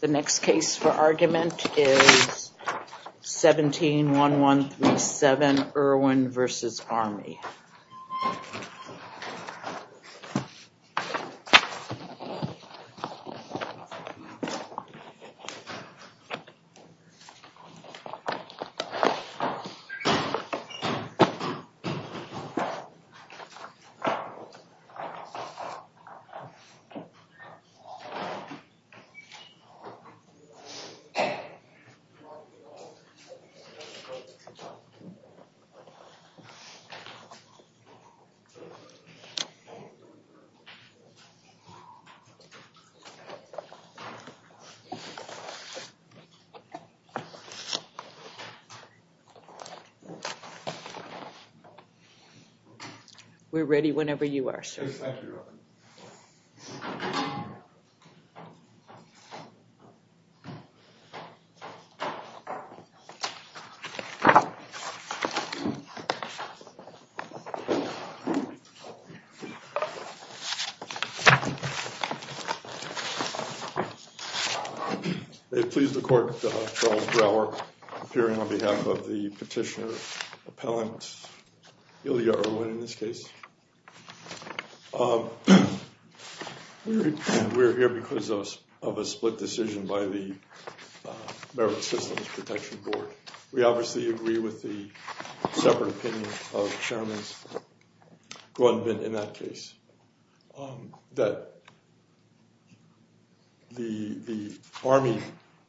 The next case for argument is 17-1137 Irwin v. Army. We're ready whenever you are, sir. Okay, thank you, Your Honor. They've pleased the court, Charles Brower, appearing on behalf of the petitioner appellant Ilya Irwin in this case. We're here because of a split decision by the Merit Systems Protection Board. We obviously agree with the separate opinion of Chairman Grundman in that case, that the Army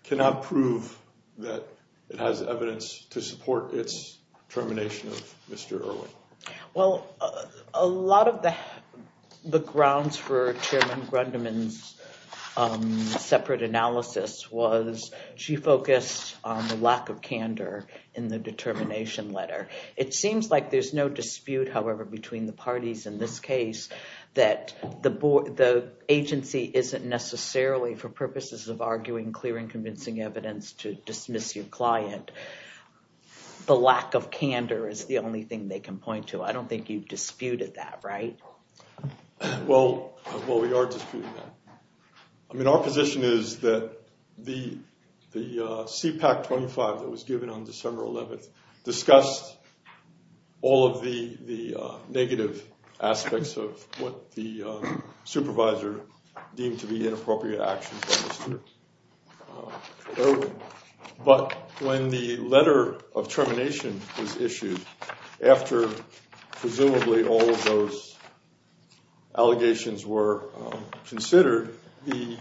cannot prove that it has evidence to support its termination of Mr. Irwin. Well, a lot of the grounds for Chairman Grundman's separate analysis was she focused on the lack of candor in the determination letter. It seems like there's no dispute, however, between the parties in this case that the agency isn't necessarily, for purposes of arguing clear and convincing evidence, to dismiss your client. The lack of candor is the only thing they can point to. I don't think you've disputed that, right? Well, we are disputing that. Our position is that the CPAC 25 that was given on December 11th discussed all of the negative aspects of what the supervisor deemed to be inappropriate actions by Mr. Irwin. But when the letter of termination was issued, after presumably all of those allegations were considered, the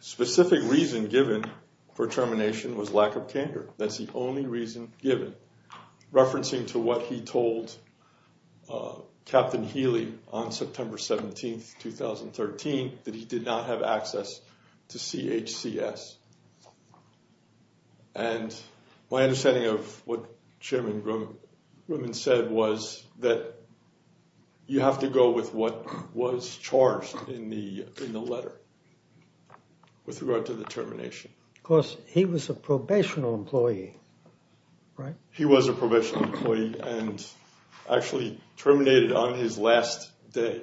specific reason given for termination was lack of candor. That's the only reason given, referencing to what he told Captain Healy on September 17th, 2013, that he did not have access to CHCS. And my understanding of what Chairman Grundman said was that you have to go with what was charged in the letter with regard to the termination. Of course, he was a probationary employee, right? He was a probationary employee and actually terminated on his last day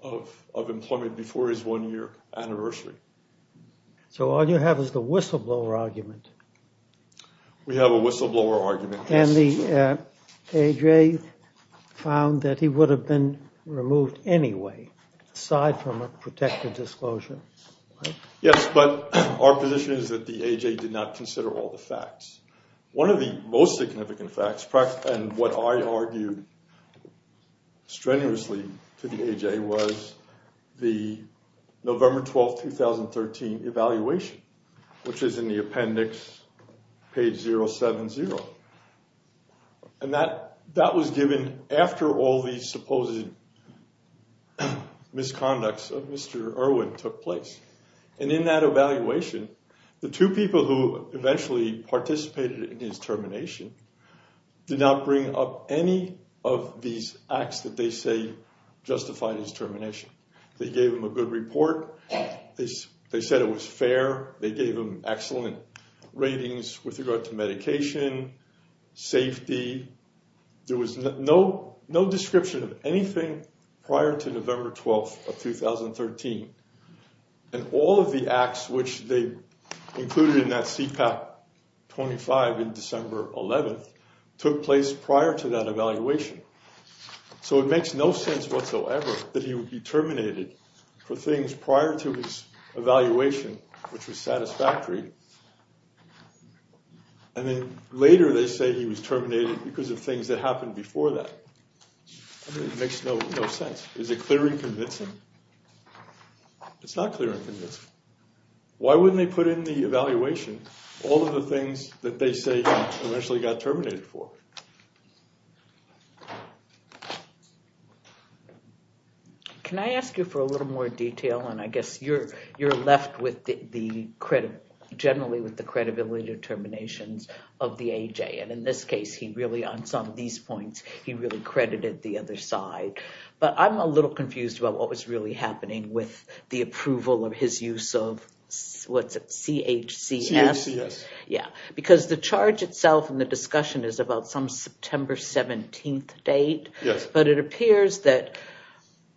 of employment before his one-year anniversary. So all you have is the whistleblower argument. We have a whistleblower argument. And the AJ found that he would have been removed anyway, aside from a protected disclosure. Yes, but our position is that the AJ did not consider all the facts. One of the most significant facts, and what I argued strenuously to the AJ, was the November 12th, 2013, evaluation, which is in the appendix, page 070. And that was given after all these supposed misconducts of Mr. Irwin took place. And in that evaluation, the two people who eventually participated in his termination did not bring up any of these acts that they say justified his termination. They gave him a good report. They said it was fair. They gave him excellent ratings with regard to medication, safety. There was no description of anything prior to November 12th of 2013. And all of the acts which they included in that CPAP 25 in December 11th took place prior to that evaluation. So it makes no sense whatsoever that he would be terminated for things prior to his evaluation, which was satisfactory. And then later, they say he was terminated because of things that happened before that. It makes no sense. Is it clear and convincing? It's not clear and convincing. Why wouldn't they put in the evaluation all of the things that they say he eventually got terminated for? Can I ask you for a little more detail? And I guess you're left generally with the credibility determinations of the AJ. And in this case, he really, on some of these points, he really credited the other side. But I'm a little confused about what was really happening with the approval of his use of, what's it, CHCS? CHCS. Yeah. Because the charge itself in the discussion is about some September 17th date. But it appears that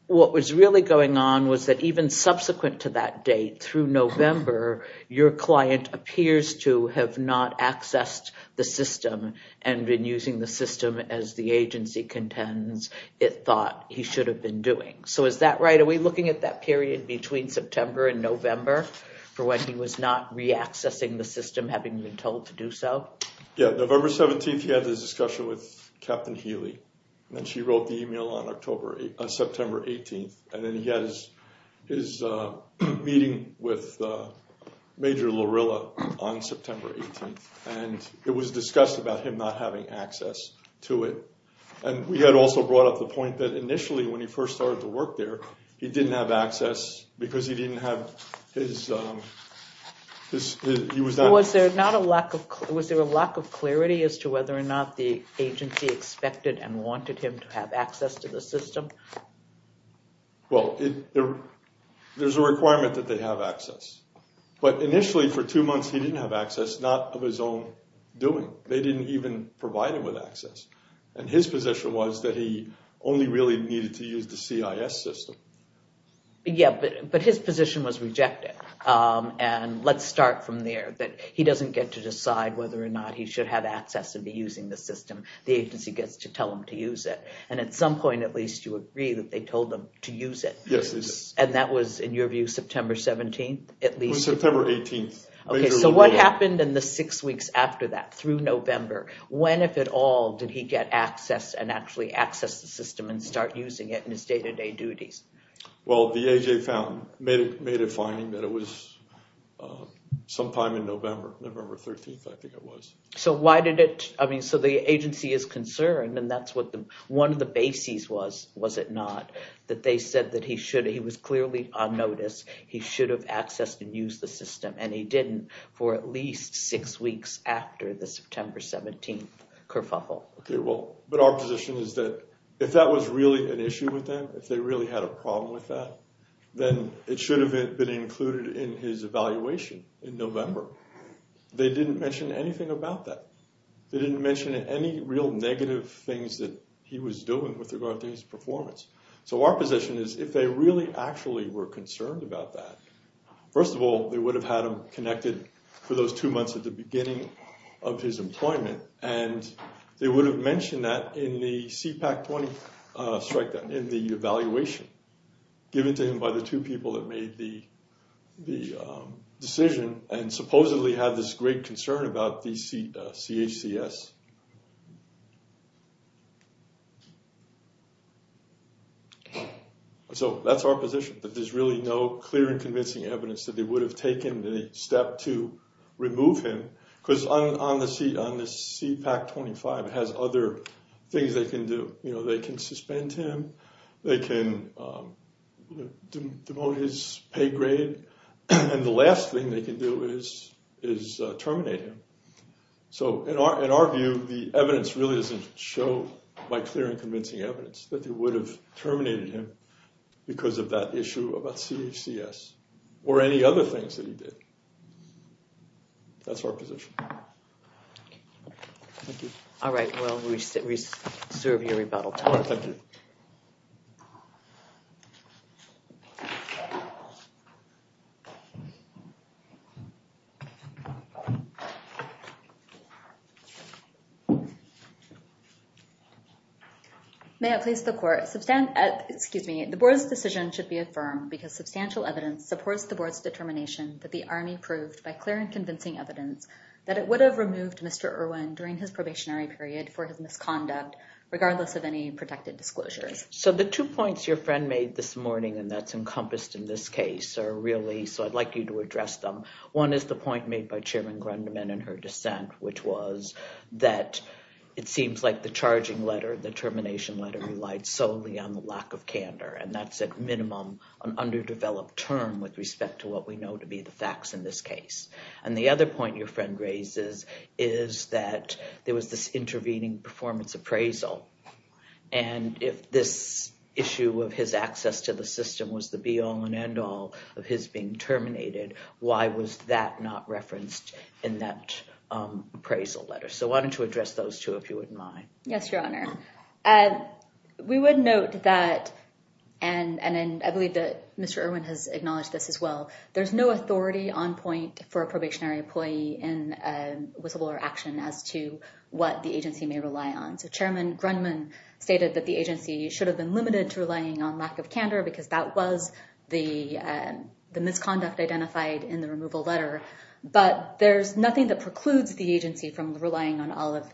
what was really going on was that even subsequent to that date, through November, your client appears to have not accessed the system and been using the system as the agency contends it thought he should have been doing. So is that right? Are we looking at that period between September and November for when he was not re-accessing the system, having been told to do so? Yeah. November 17th, he had this discussion with Captain Healy. And she wrote the email on September 18th. And then he had his meeting with Major Larrilla on September 18th. And it was discussed about him not having access to it. And we had also brought up the point that initially, when he first started to work there, he didn't have access because he didn't have his, he was not- Was there a lack of clarity as to whether or not the agency expected and wanted him to have access to the system? Well, there's a requirement that they have access. But initially, for two months, he didn't have access, not of his own doing. They didn't even provide him with access. And his position was that he only really needed to use the CIS system. Yeah. But his position was rejected. And let's start from there. He doesn't get to decide whether or not he should have access and be using the system. The agency gets to tell him to use it. And at some point, at least, you agree that they told him to use it. Yes. And that was, in your view, September 17th? It was September 18th. Okay. So what happened in the six weeks after that, through November? When, if at all, did he get access and actually access the system and start using it in his day-to-day duties? Well, the AJ Fountain made a finding that it was sometime in November, November 13th, I think it was. So why did it... I mean, so the agency is concerned, and that's what one of the bases was, was it not, that they said that he should... He was clearly on notice. He should have accessed and used the system. And he didn't for at least six weeks after the September 17th kerfuffle. Okay. Well, but our position is that if that was really an issue with them, if they really had a problem with that, then it should have been included in his evaluation in November. They didn't mention anything about that. They didn't mention any real negative things that he was doing with regard to his performance. So our position is, if they really actually were concerned about that, first of all, they would have had him connected for those two months at the beginning of his employment. And they would have mentioned that in the CPAC 20 strike down, in the evaluation given to him by the two people that made the decision and supposedly had this great concern about the CHCS. So that's our position, that there's really no clear and convincing evidence that they would have taken the step to remove him. Because on the CPAC 25, it has other things they can do. You know, they can suspend him. They can demote his pay grade. And the last thing they can do is terminate him. So in our view, the evidence really doesn't show by clear and convincing evidence that they would have terminated him because of that issue about CHCS or any other things that he did. That's our position. Thank you. All right. Well, we serve your rebuttal. Thank you. May it please the court, the board's decision should be affirmed because substantial evidence supports the board's determination that the Army proved by clear and convincing evidence that it would have removed Mr. Irwin during his probationary period for his misconduct, regardless of any protected disclosures. So the two points your friend made this morning, and that's encompassed in this case, are really, so I'd like you to address them. One is the point made by Chairman Grundeman in her dissent, which was that it seems like the charging letter, the termination letter, relied solely on the lack of candor. And that's at minimum an underdeveloped term with respect to what we know to be the facts in this case. And the other point your friend raises is that there was this intervening performance appraisal. And if this issue of his access to the system was the be all and end all of his being terminated, why was that not referenced in that appraisal letter? So why don't you address those two, if you wouldn't mind. Yes, Your Honor. And we would note that, and I believe that Mr. Irwin has acknowledged this as well, there's no authority on point for a probationary employee in whistleblower action as to what the agency may rely on. So Chairman Grundeman stated that the agency should have been limited to relying on lack of candor because that was the misconduct identified in the removal letter. But there's nothing that precludes the agency from relying on all of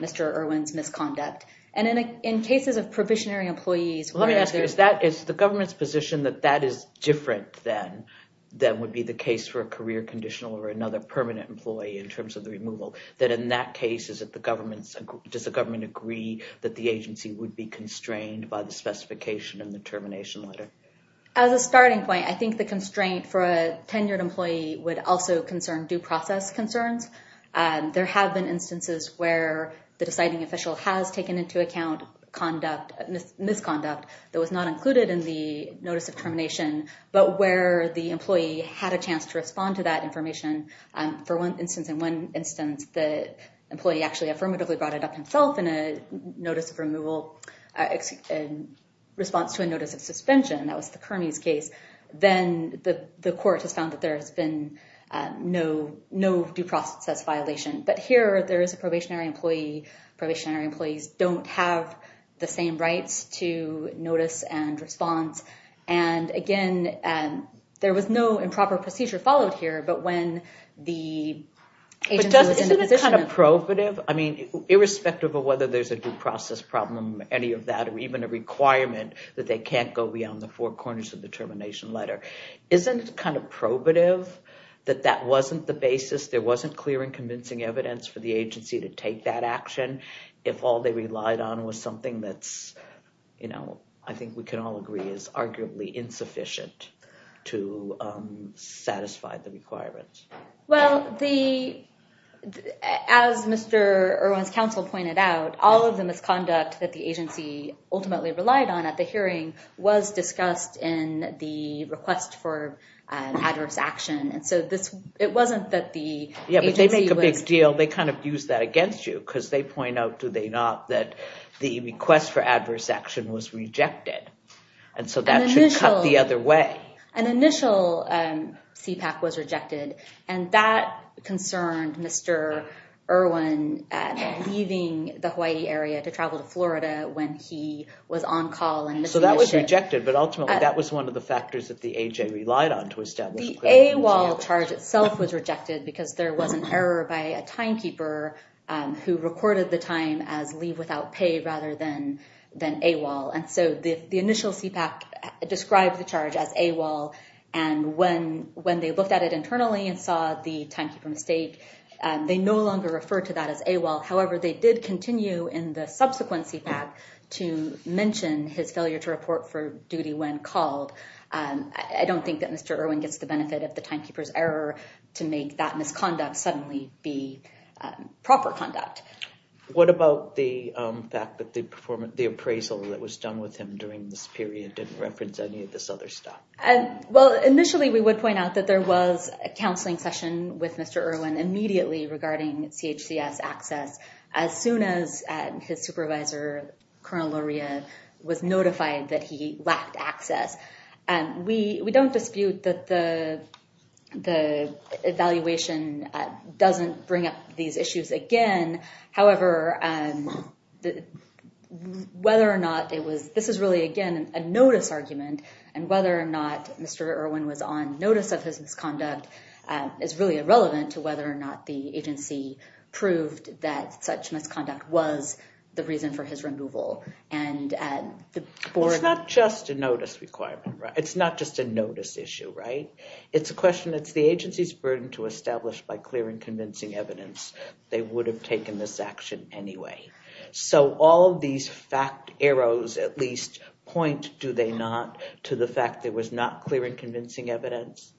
Mr. Irwin's misconduct. And in cases of probationary employees- Let me ask you, is the government's position that that is different than would be the case for a career conditional or another permanent employee in terms of the removal? That in that case, does the government agree that the agency would be constrained by the specification in the termination letter? As a starting point, I think the constraint for a tenured employee would also concern due process concerns. There have been instances where the deciding official has taken into account misconduct that was not included in the notice of termination, but where the employee had a chance to respond to that information. For one instance, in one instance, the employee actually affirmatively brought it up himself in a notice of removal in response to a notice of suspension. That was the Kearney's case. Then the court has found that there has been no due process violation. But here, there is a probationary employee. Probationary employees don't have the same rights to notice and response. And again, there was no improper procedure followed here. But when the agency was in the position of- But doesn't it seem kind of prohibitive? I mean, irrespective of whether there's a due process problem, any of that, or even a requirement that they can't go beyond the four corners of the termination letter. Isn't it kind of probative that that wasn't the basis, there wasn't clear and convincing evidence for the agency to take that action if all they relied on was something that's, you know, I think we can all agree is arguably insufficient to satisfy the requirements? Well, as Mr. Irwin's counsel pointed out, all of the misconduct that the agency ultimately relied on at the hearing was discussed in the request for adverse action. And so it wasn't that the agency was- Yeah, but they make a big deal. They kind of use that against you because they point out, do they not, that the request for adverse action was rejected. And so that should cut the other way. An initial CPAC was rejected. When he was on call and- So that was rejected. But ultimately, that was one of the factors that the AJ relied on to establish- The AWOL charge itself was rejected because there was an error by a timekeeper who recorded the time as leave without pay rather than AWOL. And so the initial CPAC described the charge as AWOL. And when they looked at it internally and saw the timekeeper mistake, they no longer referred to that as AWOL. However, they did continue in the subsequent CPAC to mention his failure to report for duty when called. I don't think that Mr. Irwin gets the benefit of the timekeeper's error to make that misconduct suddenly be proper conduct. What about the fact that the appraisal that was done with him during this period didn't reference any of this other stuff? Well, initially, we would point out that there was a counseling session with Mr. Irwin immediately regarding CHCS access as soon as his supervisor, Colonel Luria, was notified that he lacked access. We don't dispute that the evaluation doesn't bring up these issues again. However, whether or not it was- This is really, again, a notice argument. And whether or not Mr. Irwin was on notice of his misconduct is really irrelevant to whether or not the agency proved that such misconduct was the reason for his removal. And the board- It's not just a notice requirement, right? It's not just a notice issue, right? It's a question that's the agency's burden to establish by clearing convincing evidence they would have taken this action anyway. So all of these fact arrows, at least, point, do they not, to the fact there was not clear and convincing evidence?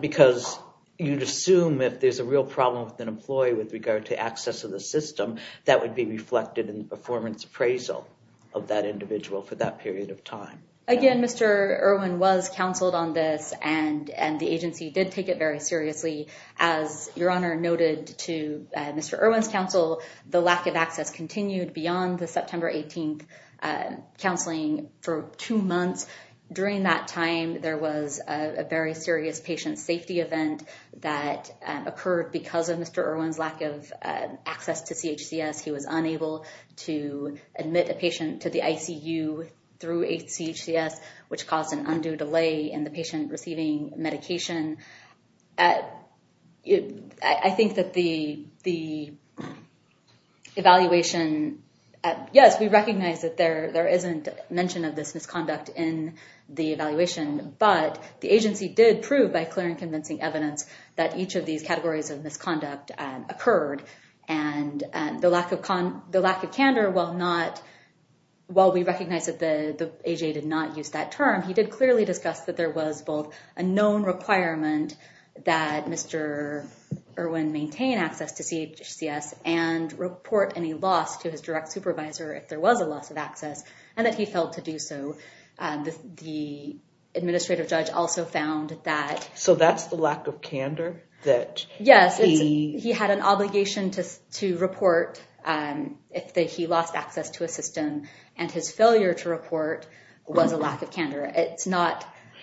Because you'd assume if there's a real problem with an employee with regard to access to the system, that would be reflected in the performance appraisal of that individual for that period of time. Again, Mr. Irwin was counseled on this, and the agency did take it very seriously. As Your Honor noted to Mr. Irwin's counsel, the lack of access continued beyond the September 18th counseling for two months. During that time, there was a very serious patient safety event that occurred because of Mr. Irwin's lack of access to CHCS. He was unable to admit a patient to the ICU through CHCS, which caused an undue delay in the patient receiving medication. I think that the evaluation- mention of this misconduct in the evaluation, but the agency did prove by clear and convincing evidence that each of these categories of misconduct occurred. And the lack of candor, while we recognize that the AJA did not use that term, he did clearly discuss that there was both a known requirement that Mr. Irwin maintain access to CHCS and report any loss to his direct supervisor if there was a loss of access, and that he failed to do so. The administrative judge also found that- So that's the lack of candor that he- Yes, he had an obligation to report if he lost access to a system, and his failure to report was a lack of candor.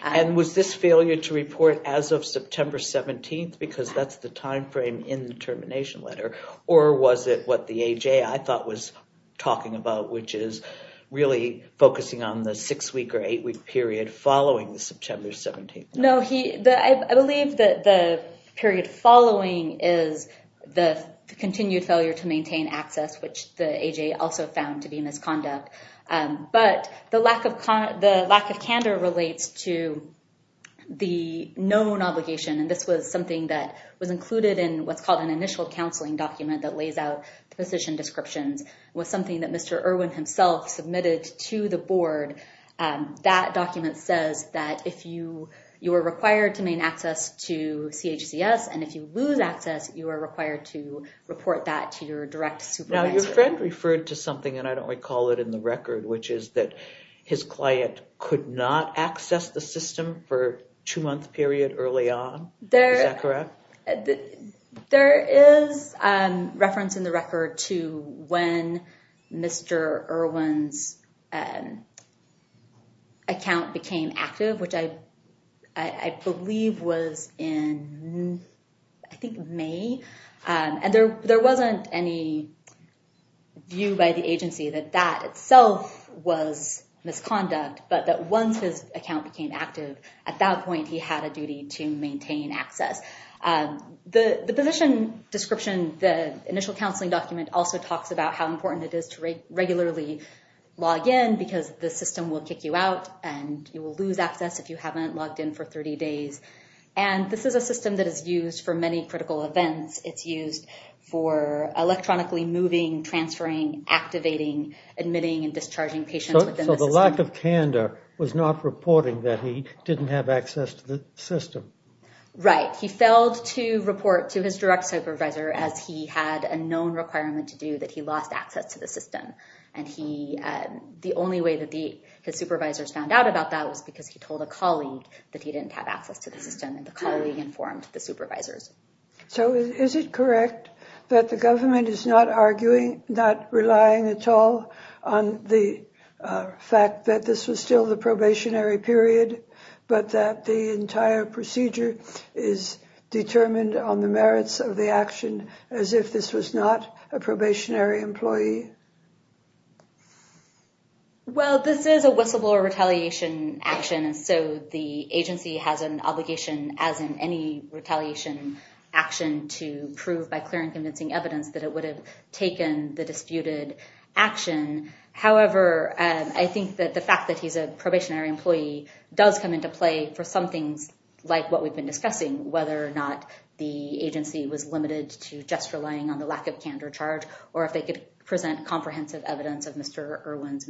And was this failure to report as of September 17th, because that's the time frame in the termination letter, or was it what the AJA, I thought, was talking about, which is really focusing on the six-week or eight-week period following the September 17th? No, I believe that the period following is the continued failure to maintain access, which the AJA also found to be misconduct. But the lack of candor relates to the known obligation, and this was something that was included in what's called an initial counseling document that lays out the position descriptions. It was something that Mr. Irwin himself submitted to the board. That document says that if you were required to maintain access to CHCS, and if you lose access, you are required to report that to your direct supervisor. Now, your friend referred to something, and I don't recall it in the record, which is that his client could not access the system for a two-month period early on. Is that correct? There is reference in the record to when Mr. Irwin's account became active, which I believe was in, I think, May. And there wasn't any view by the agency that that itself was misconduct, but that once his account became active, at that point, he had a duty to maintain access. The position description, the initial counseling document, also talks about how important it is to regularly log in, because the system will kick you out, and you will lose access if you haven't logged in for 30 days. And this is a system that is used for many critical events. It's used for electronically moving, transferring, activating, admitting, and discharging patients within the system. So the lack of candor was not reporting that he didn't have access to the system? Right. He failed to report to his direct supervisor, as he had a known requirement to do, that he lost access to the system. And the only way that his supervisors found out about that was because he told a colleague that he didn't have access to the system, and the colleague informed the supervisors. So is it correct that the government is not arguing, not relying at all on the fact that this was still the probationary period, but that the entire procedure is determined on the merits of the action, as if this was not a probationary employee? Well, this is a whistleblower retaliation action, and so the agency has an obligation, as in any retaliation action, to prove by clear and convincing evidence that it would have taken the disputed action. However, I think that the fact that he's a probationary employee does come into play for some things like what we've been discussing, whether or not the agency was limited to just relying on the lack of candor charge, or if they could present comprehensive evidence of Mr. Irwin's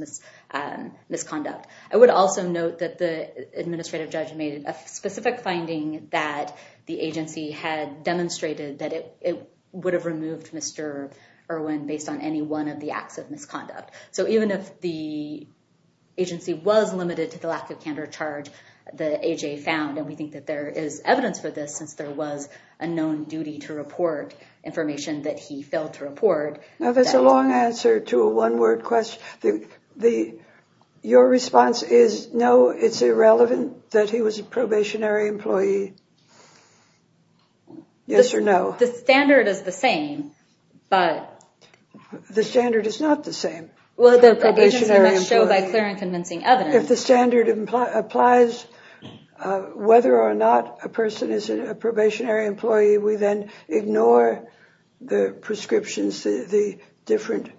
misconduct. I would also note that the administrative judge made a specific finding that the agency had demonstrated that it would have removed Mr. Irwin based on any one of the acts of misconduct. So even if the agency was limited to the lack of candor charge that AJ found, and we think that there is evidence for this, since there was a known duty to report information that he failed to report. Now, that's a long answer to a one-word question. Your response is, no, it's irrelevant that he was a probationary employee. Yes or no? The standard is the same, but... The standard is not the same. Well, the agency must show by clear and convincing evidence. If the standard applies whether or not a person is a probationary employee, we then ignore the prescriptions, the different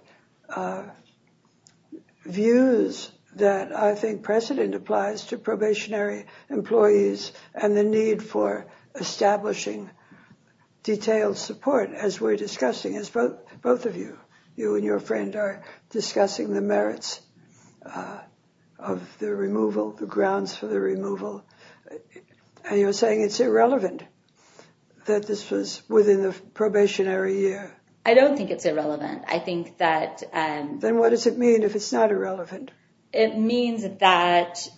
views that I think precedent applies to probationary employees and the need for establishing detailed support, as we're discussing, as both of you, you and your friend, are discussing the merits of the removal, the grounds for the removal. And you're saying it's irrelevant that this was within the probationary year. I don't think it's irrelevant. I think that... Then what does it mean if it's not irrelevant? It means that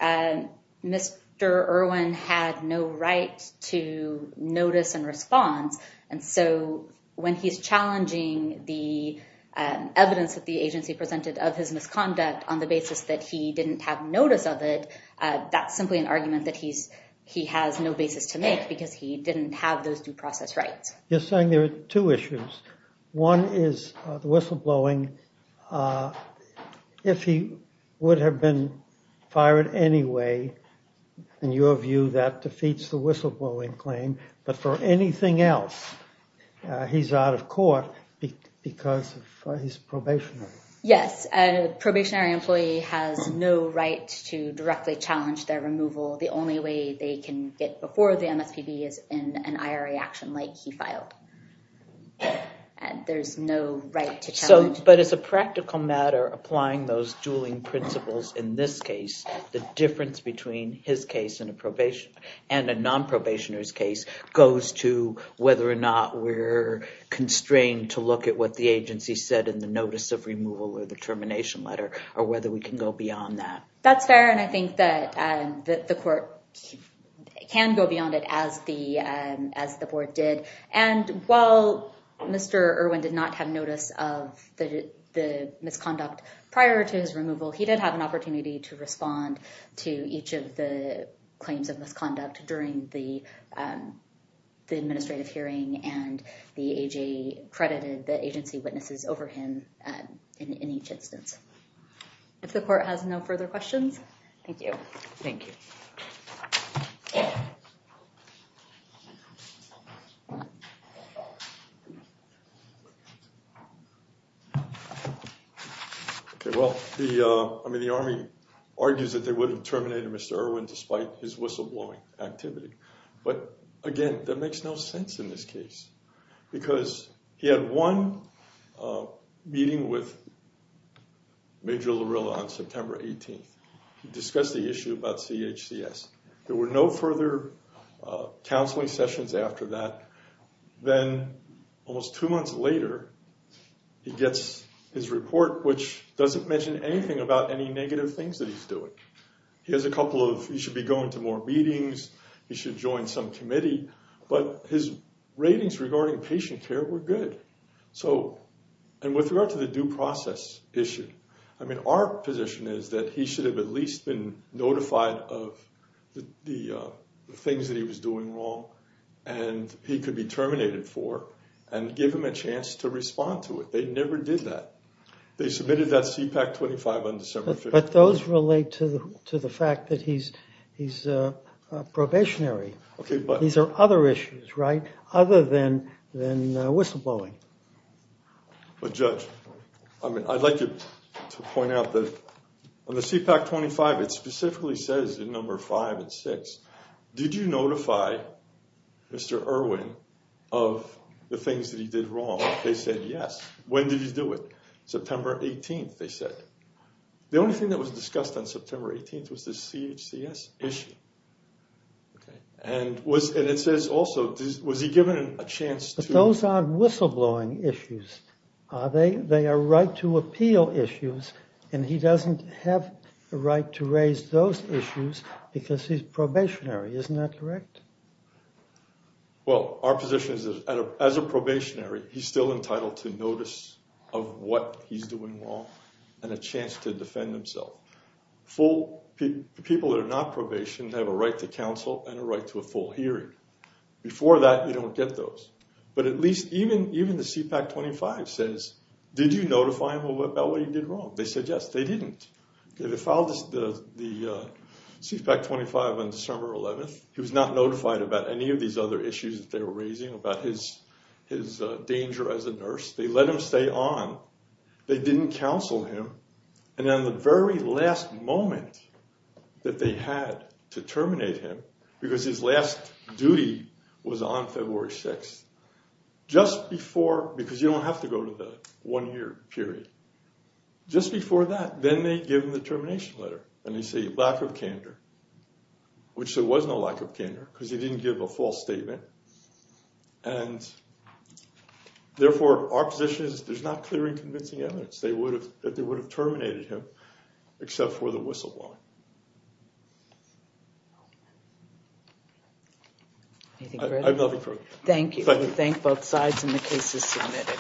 Mr. Irwin had no right to notice and response. And so when he's challenging the evidence that the agency presented of his misconduct on the basis that he didn't have notice of it, that's simply an argument that he has no basis to make because he didn't have those due process rights. You're saying there are two issues. One is the whistleblowing. If he would have been fired anyway, in your view, that defeats the whistleblowing claim. But for anything else, he's out of court because he's probationary. Yes, a probationary employee has no right to directly challenge their removal. The only way they can get before the MSPB is in an IRA action like he filed. There's no right to challenge. But as a practical matter, applying those dueling principles in this case, the difference between his case and a non-probationer's case goes to whether or not we're constrained to look at what the agency said in the notice of removal or the termination letter, or whether we can go beyond that. That's fair, and I think that the court can go beyond it as the board did. And while Mr. Irwin did not have notice of the misconduct prior to his removal, he did have an opportunity to respond to each of the claims of misconduct during the administrative hearing. And the AJ credited the agency witnesses over him in each instance. If the court has no further questions, thank you. Thank you. OK, well, I mean, the Army argues that they would have terminated Mr. Irwin despite his whistleblowing activity. But again, that makes no sense in this case. Because he had one meeting with Major Larrillo on September 18th. He discussed the issue about CHCS. There were no further counseling sessions after that. Then almost two months later, he gets his report, which doesn't mention anything about any negative things that he's doing. He has a couple of, he should be going to more meetings. He should join some committee. But his ratings regarding patient care were good. And with regard to the due process issue, I mean, our position is that he should have at least been notified of the things that he was doing wrong. And he could be terminated for and give him a chance to respond to it. They never did that. They submitted that CPAC 25 on December 15th. But those relate to the fact that he's probationary. These are other issues, right? Other than whistleblowing. But Judge, I mean, I'd like you to point out that on the CPAC 25, it specifically says in number five and six, did you notify Mr. Irwin of the things that he did wrong? They said yes. When did he do it? September 18th, they said. The only thing that was discussed on September 18th was the CHCS issue. And it says also, was he given a chance to- Those aren't whistleblowing issues. They are right to appeal issues. And he doesn't have the right to raise those issues because he's probationary. Isn't that correct? Well, our position is that as a probationary, he's still entitled to notice of what he's doing wrong and a chance to defend himself. People that are not probation have a right to counsel and a right to a full hearing. Before that, you don't get those. But at least even the CPAC 25 says, did you notify him about what he did wrong? They said yes, they didn't. They filed the CPAC 25 on December 11th. He was not notified about any of these other issues that they were raising about his danger as a nurse. They let him stay on. They didn't counsel him. And then the very last moment that they had to terminate him, because his last duty was on February 6th, just before, because you don't have to go to the one year period, just before that, then they give him the termination letter. And they say lack of candor, which there was no lack of candor, because he didn't give a false statement. And therefore, our position is there's not clear and convincing evidence that they would have terminated him, except for the whistleblowing. Anything further? I vote approve. Thank you. We thank both sides and the case is submitted.